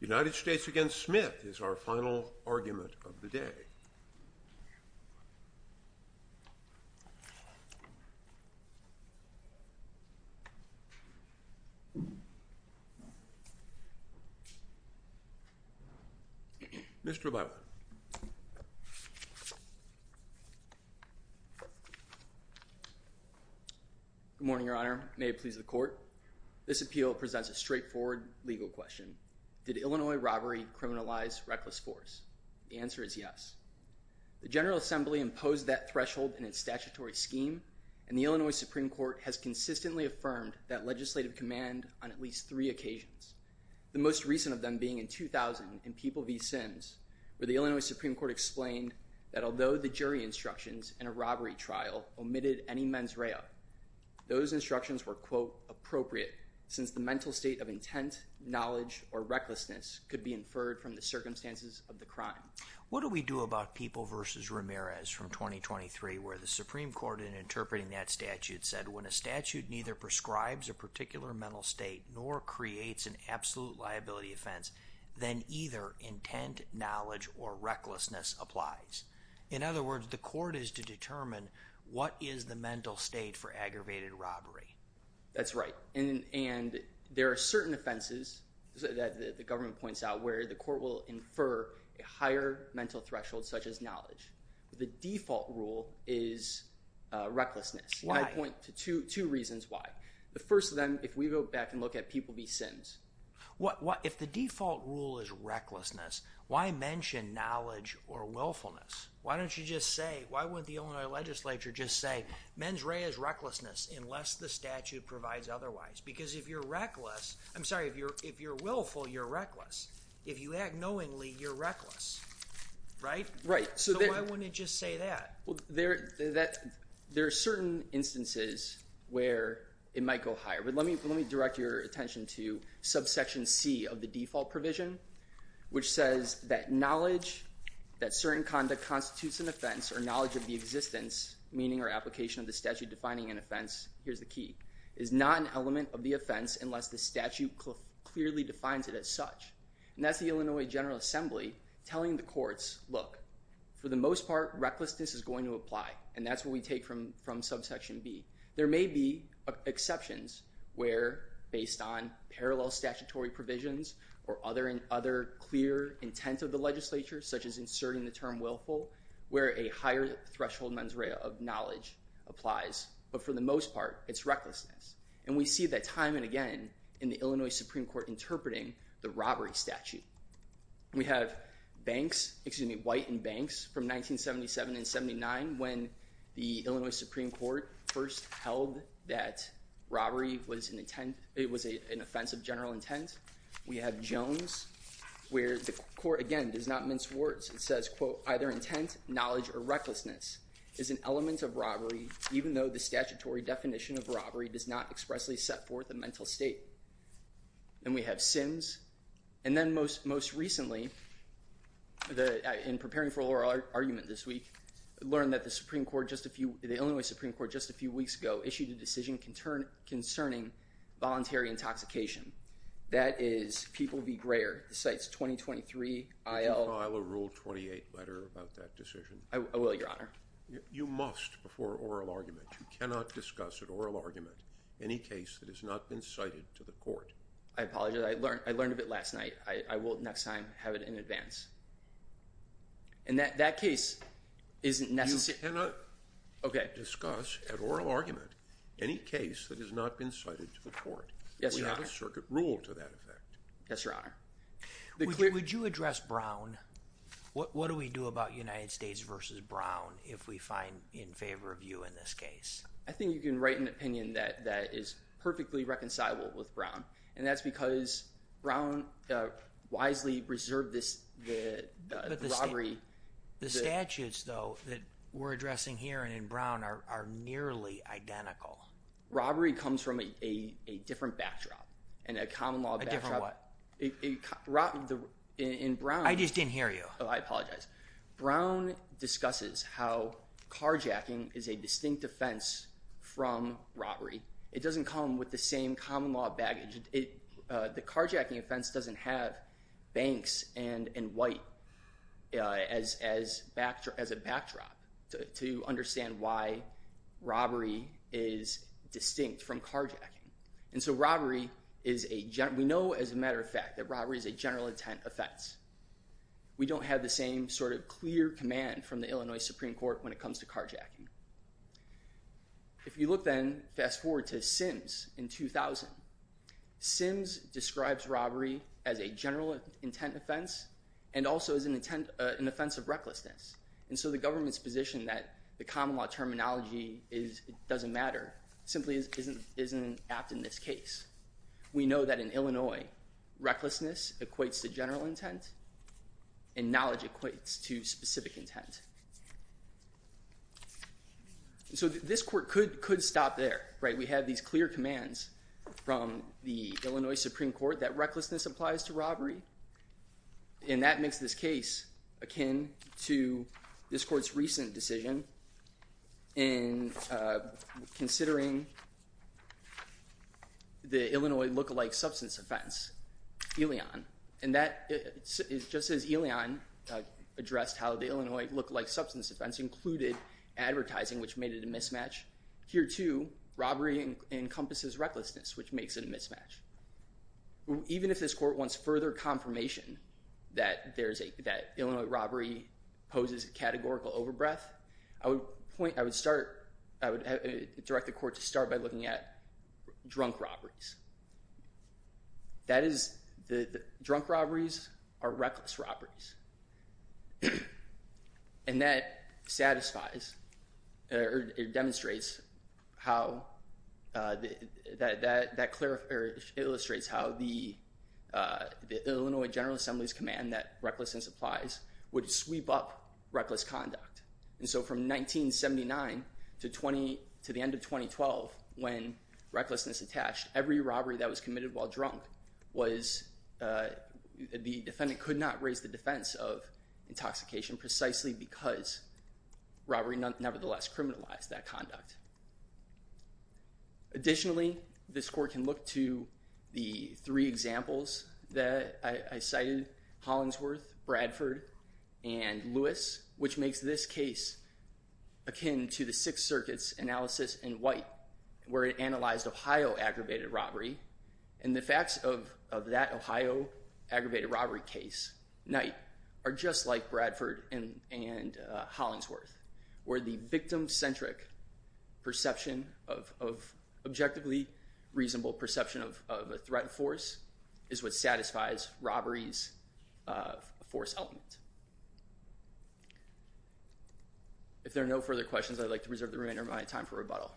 United States v. Smith is our final argument of the day. Mr. Butler. Good morning, Your Honor. May it please the court. This appeal presents a straightforward legal question. Did Illinois robbery criminalize reckless force? The answer is yes. The General Assembly imposed that threshold in its statutory scheme, and the Illinois Supreme Court has consistently affirmed that legislative command on at least three occasions. The most recent of them being in 2000 in People v. Sims, where the Illinois Supreme Court explained that although the jury instructions in a robbery trial omitted any mens rea, those instructions were, quote, appropriate, since the mental state of intent, knowledge, or recklessness could be inferred from the circumstances of the crime. What do we do about People v. Ramirez from 2023, where the Supreme Court, in interpreting that statute, said when a statute neither prescribes a particular mental state nor creates an absolute liability offense, then either intent, knowledge, or recklessness applies. In other words, the court is to determine what is the mental state for aggravated robbery. That's right. And there are certain offenses that the government points out where the court will infer a higher mental threshold, such as knowledge. The default rule is recklessness. Why? I point to two reasons why. The first of them, if we go back and look at People v. Sims. If the default rule is recklessness, why mention knowledge or willfulness? Why don't you just say—why wouldn't the Illinois legislature just say, mens rea is recklessness unless the statute provides otherwise? Because if you're reckless—I'm sorry, if you're willful, you're reckless. If you act knowingly, you're reckless. Right? Right. So why wouldn't it just say that? There are certain instances where it might go higher, but let me direct your attention to subsection C of the default provision, which says that knowledge, that certain conduct constitutes an offense, or knowledge of the existence, meaning or application of the statute defining an offense—here's the key—is not an element of the offense unless the statute clearly defines it as such. And that's the Illinois General Assembly telling the courts, look, for the most part, recklessness is going to apply, and that's what we take from subsection B. There may be exceptions where, based on parallel statutory provisions or other clear intent of the legislature, such as inserting the term willful, where a higher threshold, mens rea, of knowledge applies. But for the most part, it's recklessness. And we see that time and again in the Illinois Supreme Court interpreting the robbery statute. We have Banks—excuse me, White and Banks from 1977 and 1979 when the Illinois Supreme Court first held that robbery was an offense of general intent. We have Jones where the court, again, does not mince words. It says, quote, either intent, knowledge, or recklessness is an element of robbery even though the statutory definition of robbery does not expressly set forth a mental state. And we have Sims. And then most recently, in preparing for oral argument this week, learned that the Supreme Court just a few—the Illinois Supreme Court just a few weeks ago issued a decision concerning voluntary intoxication. That is People v. Greyer. The site's 2023 IL. Would you file a Rule 28 letter about that decision? I will, Your Honor. You must before oral argument. You cannot discuss at oral argument any case that has not been cited to the court. I apologize. I learned of it last night. I will next time have it in advance. And that case isn't necessary— You cannot discuss at oral argument any case that has not been cited to the court. Yes, Your Honor. We have a circuit rule to that effect. Yes, Your Honor. Would you address Brown? What do we do about United States v. Brown if we find in favor of you in this case? I think you can write an opinion that is perfectly reconcilable with Brown. And that's because Brown wisely reserved this robbery— The statutes, though, that we're addressing here and in Brown are nearly identical. Robbery comes from a different backdrop and a common law backdrop. A different what? In Brown— I just didn't hear you. Oh, I apologize. Brown discusses how carjacking is a distinct offense from robbery. It doesn't come with the same common law baggage. The carjacking offense doesn't have banks and white as a backdrop to understand why robbery is distinct from carjacking. We know, as a matter of fact, that robbery is a general intent offense. We don't have the same sort of clear command from the Illinois Supreme Court when it comes to carjacking. If you look then, fast forward to Sims in 2000. Sims describes robbery as a general intent offense and also as an offense of recklessness. And so the government's position that the common law terminology doesn't matter simply isn't apt in this case. We know that in Illinois, recklessness equates to general intent and knowledge equates to specific intent. So this court could stop there. We have these clear commands from the Illinois Supreme Court that recklessness applies to robbery. And that makes this case akin to this court's recent decision in considering the Illinois lookalike substance offense, Elyon. And just as Elyon addressed how the Illinois lookalike substance offense included advertising, which made it a mismatch, here, too, robbery encompasses recklessness, which makes it a mismatch. Even if this court wants further confirmation that Illinois robbery poses a categorical overbreath, I would direct the court to start by looking at drunk robberies. That is, drunk robberies are reckless robberies. And that satisfies or demonstrates how that clarifies or illustrates how the Illinois General Assembly's command that recklessness applies would sweep up reckless conduct. And so from 1979 to the end of 2012, when recklessness attached, every robbery that was committed while drunk was the defendant could not raise the defense of intoxication precisely because robbery nevertheless criminalized that conduct. Additionally, this court can look to the three examples that I cited, Hollingsworth, Bradford, and Lewis, which makes this case akin to the Sixth Circuit's analysis in White, where it analyzed Ohio aggravated robbery. And the facts of that Ohio aggravated robbery case, Knight, are just like Bradford and Hollingsworth, where the victim-centric perception of objectively reasonable perception of a threat force is what satisfies robbery's force element. If there are no further questions, I'd like to reserve the remainder of my time for rebuttal.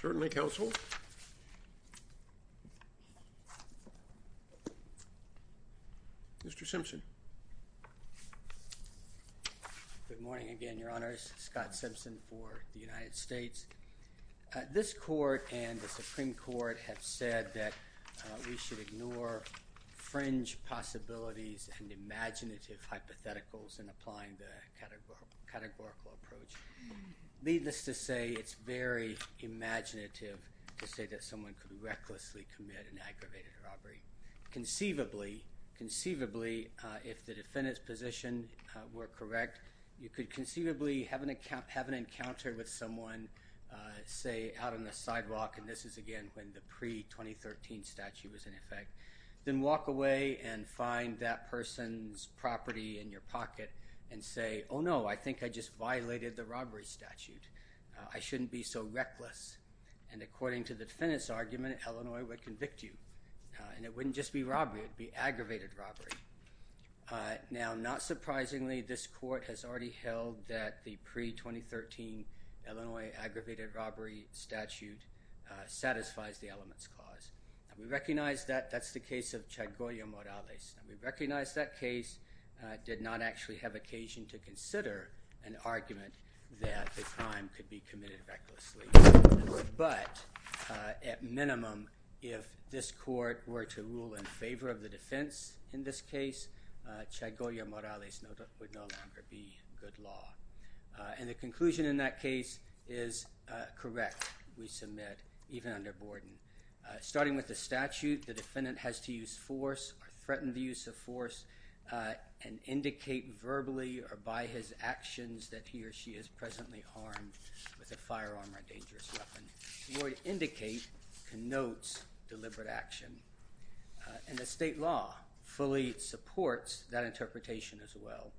Certainly, counsel. Mr. Simpson. Good morning again, Your Honors. Scott Simpson for the United States. This court and the Supreme Court have said that we should ignore fringe possibilities and imaginative hypotheticals in applying the categorical approach. Needless to say, it's very imaginative to say that someone could recklessly commit an aggravated robbery. Conceivably, if the defendant's position were correct, you could conceivably have an encounter with someone, say, out on the sidewalk, and this is, again, when the pre-2013 statute was in effect, then walk away and find that person's property in your pocket and say, oh, no, I think I just violated the robbery statute. I shouldn't be so reckless. And according to the defendant's argument, Illinois would convict you. And it wouldn't just be robbery. It would be aggravated robbery. Now, not surprisingly, this court has already held that the pre-2013 Illinois aggravated robbery statute satisfies the element's cause. We recognize that that's the case of Chagoya Morales. We recognize that case did not actually have occasion to consider an argument that the crime could be committed recklessly. But at minimum, if this court were to rule in favor of the defense in this case, Chagoya Morales would no longer be good law. And the conclusion in that case is correct, we submit, even under Borden. Starting with the statute, the defendant has to use force or threaten the use of force and indicate verbally or by his actions that he or she is presently harmed with a firearm or a dangerous weapon. The word indicate connotes deliberate action. And the state law fully supports that interpretation as well.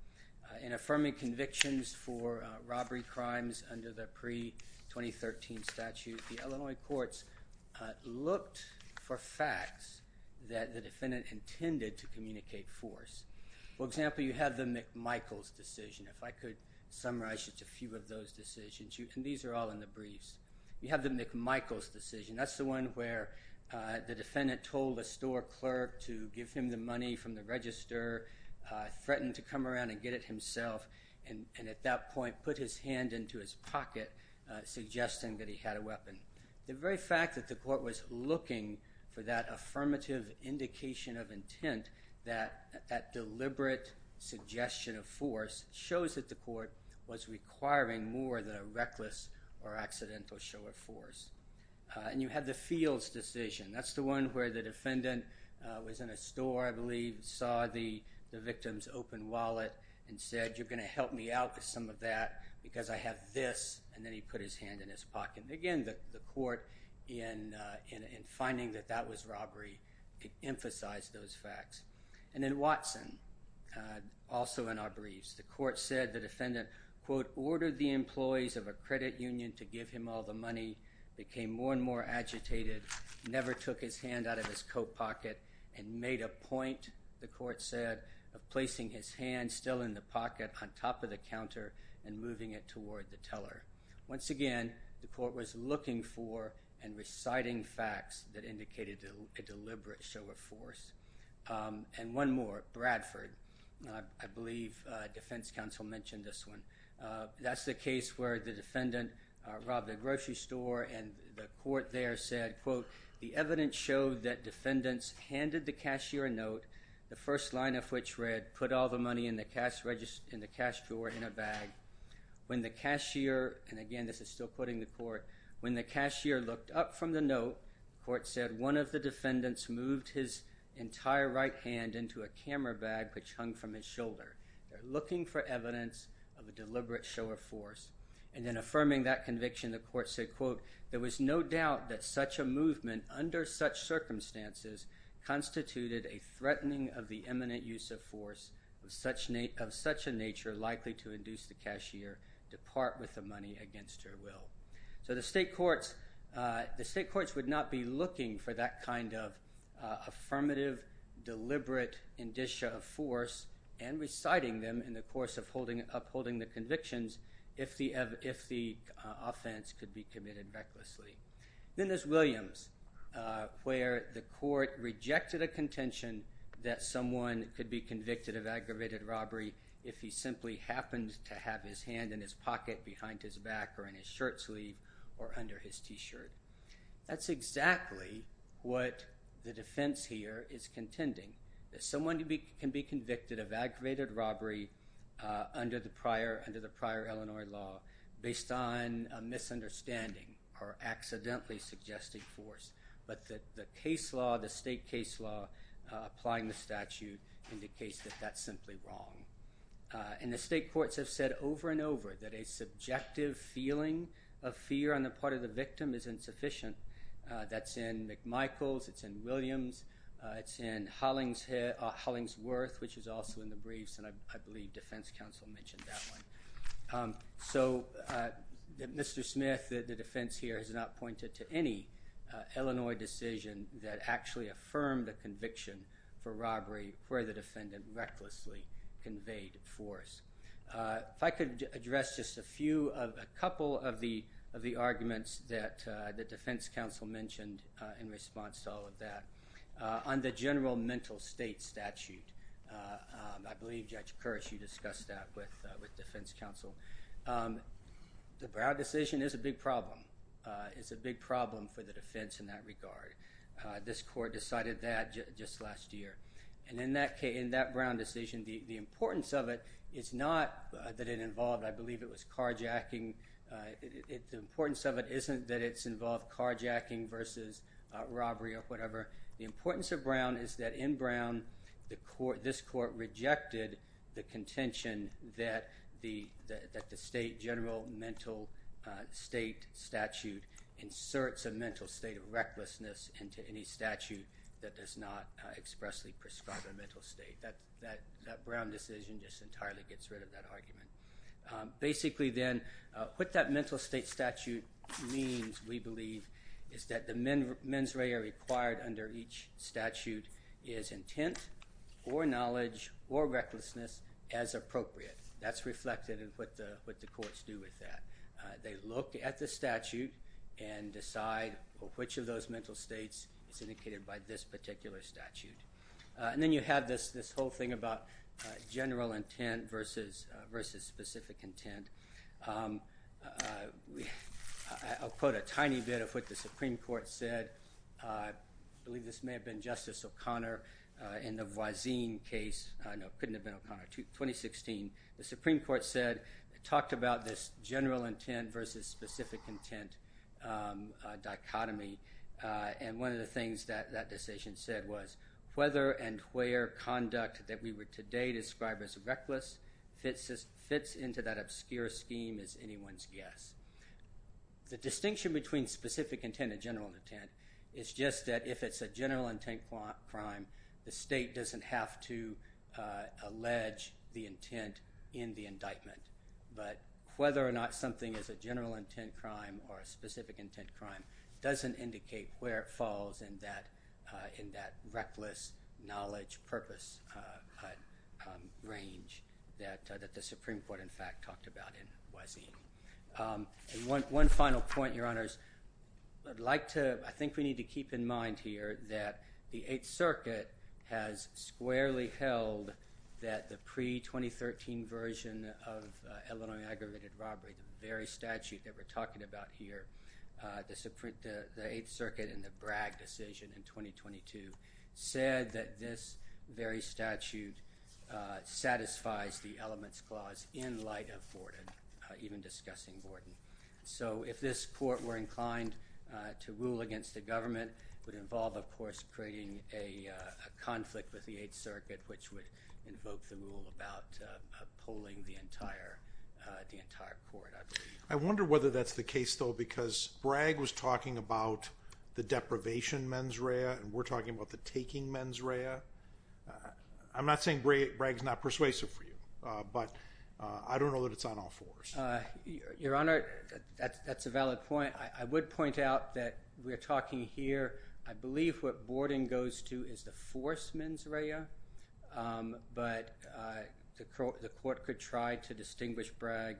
In affirming convictions for robbery crimes under the pre-2013 statute, the Illinois courts looked for facts that the defendant intended to communicate force. For example, you have the McMichael's decision. If I could summarize just a few of those decisions. And these are all in the briefs. You have the McMichael's decision. That's the one where the defendant told a store clerk to give him the money from the register, threatened to come around and get it himself, and at that point put his hand into his pocket suggesting that he had a weapon. The very fact that the court was looking for that affirmative indication of intent, that deliberate suggestion of force, shows that the court was requiring more than a reckless or accidental show of force. And you have the Fields decision. That's the one where the defendant was in a store, I believe, and saw the victim's open wallet and said, you're going to help me out with some of that because I have this, and then he put his hand in his pocket. Again, the court, in finding that that was robbery, emphasized those facts. And then Watson, also in our briefs. The court said the defendant, quote, ordered the employees of a credit union to give him all the money, became more and more agitated, never took his hand out of his coat pocket and made a point, the court said, of placing his hand still in the pocket on top of the counter and moving it toward the teller. Once again, the court was looking for and reciting facts that indicated a deliberate show of force. And one more, Bradford. I believe defense counsel mentioned this one. That's the case where the defendant robbed a grocery store and the court there said, quote, the evidence showed that defendants handed the cashier a note, the first line of which read, put all the money in the cash drawer in a bag. When the cashier, and again this is still quoting the court, when the cashier looked up from the note, the court said, one of the defendants moved his entire right hand into a camera bag which hung from his shoulder. They're looking for evidence of a deliberate show of force. And then affirming that conviction, the court said, quote, there was no doubt that such a movement under such circumstances constituted a threatening of the eminent use of force of such a nature likely to induce the cashier to part with the money against her will. So the state courts would not be looking for that kind of affirmative, deliberate indicia of force and reciting them in the course of upholding the convictions if the offense could be committed recklessly. Then there's Williams where the court rejected a contention that someone could be convicted of aggravated robbery if he simply happened to have his hand in his pocket behind his back or in his shirt sleeve or under his T-shirt. That's exactly what the defense here is contending, that someone can be convicted of aggravated robbery under the prior Illinois law based on a misunderstanding or accidentally suggesting force. But the case law, the state case law applying the statute indicates that that's simply wrong. And the state courts have said over and over that a subjective feeling of fear on the part of the victim is insufficient. That's in McMichaels. It's in Williams. It's in Hollingsworth which is also in the briefs and I believe defense counsel mentioned that one. So Mr. Smith, the defense here has not pointed to any Illinois decision that actually affirmed the conviction for robbery where the defendant recklessly conveyed force. If I could address just a couple of the arguments that the defense counsel mentioned in response to all of that. On the general mental state statute, I believe Judge Kirsch, you discussed that with defense counsel. The Brown decision is a big problem. It's a big problem for the defense in that regard. This court decided that just last year. And in that Brown decision, the importance of it is not that it involved, I believe it was carjacking. The importance of it isn't that it's involved carjacking versus robbery or whatever. The importance of Brown is that in Brown, this court rejected the contention that the state general mental state statute inserts a mental state of recklessness into any statute that does not expressly prescribe a mental state. That Brown decision just entirely gets rid of that argument. Basically then, what that mental state statute means, we believe, is that the mens rea required under each statute is intent or knowledge or recklessness as appropriate. That's reflected in what the courts do with that. They look at the statute and decide which of those mental states is indicated by this particular statute. And then you have this whole thing about general intent versus specific intent. I'll quote a tiny bit of what the Supreme Court said. I believe this may have been Justice O'Connor in the Voisin case. No, it couldn't have been O'Connor. 2016. The Supreme Court said, talked about this general intent versus specific intent dichotomy. And one of the things that that decision said was, whether and where conduct that we would today describe as reckless fits into that obscure scheme is anyone's guess. The distinction between specific intent and general intent is just that if it's a general intent crime, the state doesn't have to allege the intent in the indictment. But whether or not something is a general intent crime in that reckless knowledge purpose range that the Supreme Court, in fact, talked about in Voisin. One final point, Your Honors. I think we need to keep in mind here that the Eighth Circuit has squarely held that the pre-2013 version of Illinois aggravated robbery, the very statute that we're talking about here, the Eighth Circuit in the Bragg decision in 2022, said that this very statute satisfies the elements clause in light of Borden, even discussing Borden. So if this court were inclined to rule against the government, it would involve, of course, creating a conflict with the Eighth Circuit, which would invoke the rule about polling the entire court. I wonder whether that's the case, though, because Bragg was talking about the deprivation mens rea and we're talking about the taking mens rea. I'm not saying Bragg's not persuasive for you, but I don't know that it's on all fours. Your Honor, that's a valid point. I would point out that we're talking here, I believe what Borden goes to is the force mens rea, but the court could try to distinguish Bragg,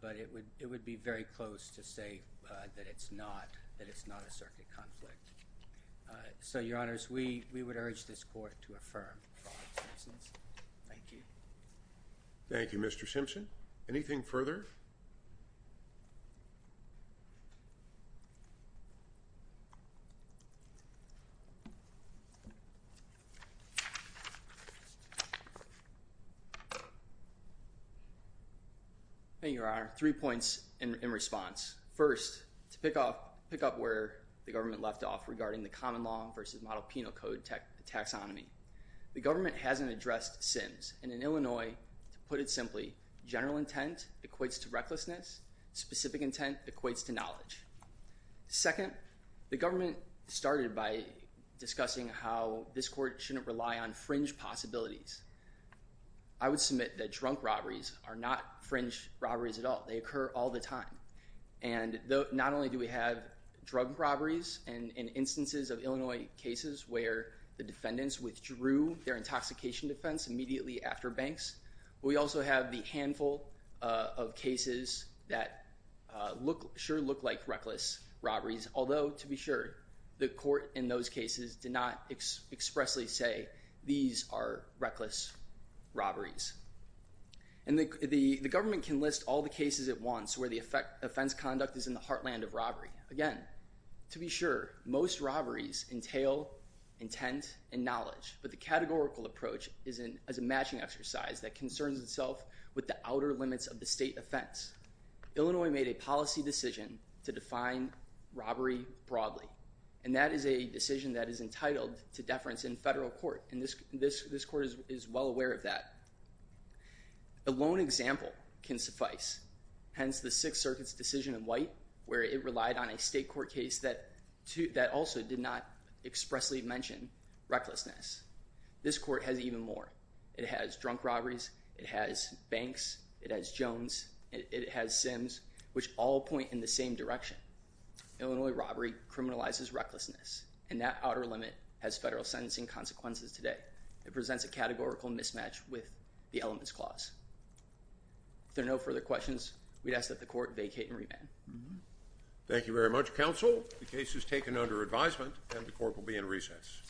but it would be very close to say that it's not a circuit conflict. So, Your Honors, we would urge this court to affirm Bragg's sentence. Thank you. Thank you, Mr. Simpson. Anything further? Thank you, Your Honor. Three points in response. First, to pick up where the government left off regarding the common law versus model penal code taxonomy. The government hasn't addressed sins, and in Illinois, to put it simply, general intent equates to recklessness, specific intent equates to knowledge. Second, the government started by discussing how this court shouldn't rely on fringe possibilities. I would submit that drunk robberies are not fringe robberies at all. They occur all the time, and not only do we have drug robberies and instances of Illinois cases where the defendants withdrew their intoxication defense immediately after banks, but we also have the handful of cases that sure look like reckless robberies, although, to be sure, the court in those cases did not expressly say these are reckless robberies. And the government can list all the cases at once where the offense conduct is in the heartland of robbery. Again, to be sure, most robberies entail intent and knowledge, but the categorical approach is a matching exercise that concerns itself with the outer limits of the state offense. Illinois made a policy decision to define robbery broadly, and that is a decision that is entitled to deference in federal court, and this court is well aware of that. A lone example can suffice, hence the Sixth Circuit's decision in White where it relied on a state court case that also did not expressly mention recklessness. This court has even more. It has drunk robberies, it has banks, it has Jones, it has Sims, which all point in the same direction. Illinois robbery criminalizes recklessness, and that outer limit has federal sentencing consequences today. It presents a categorical mismatch with the elements clause. If there are no further questions, we'd ask that the court vacate and remand. Thank you very much, counsel. The case is taken under advisement, and the court will be in recess.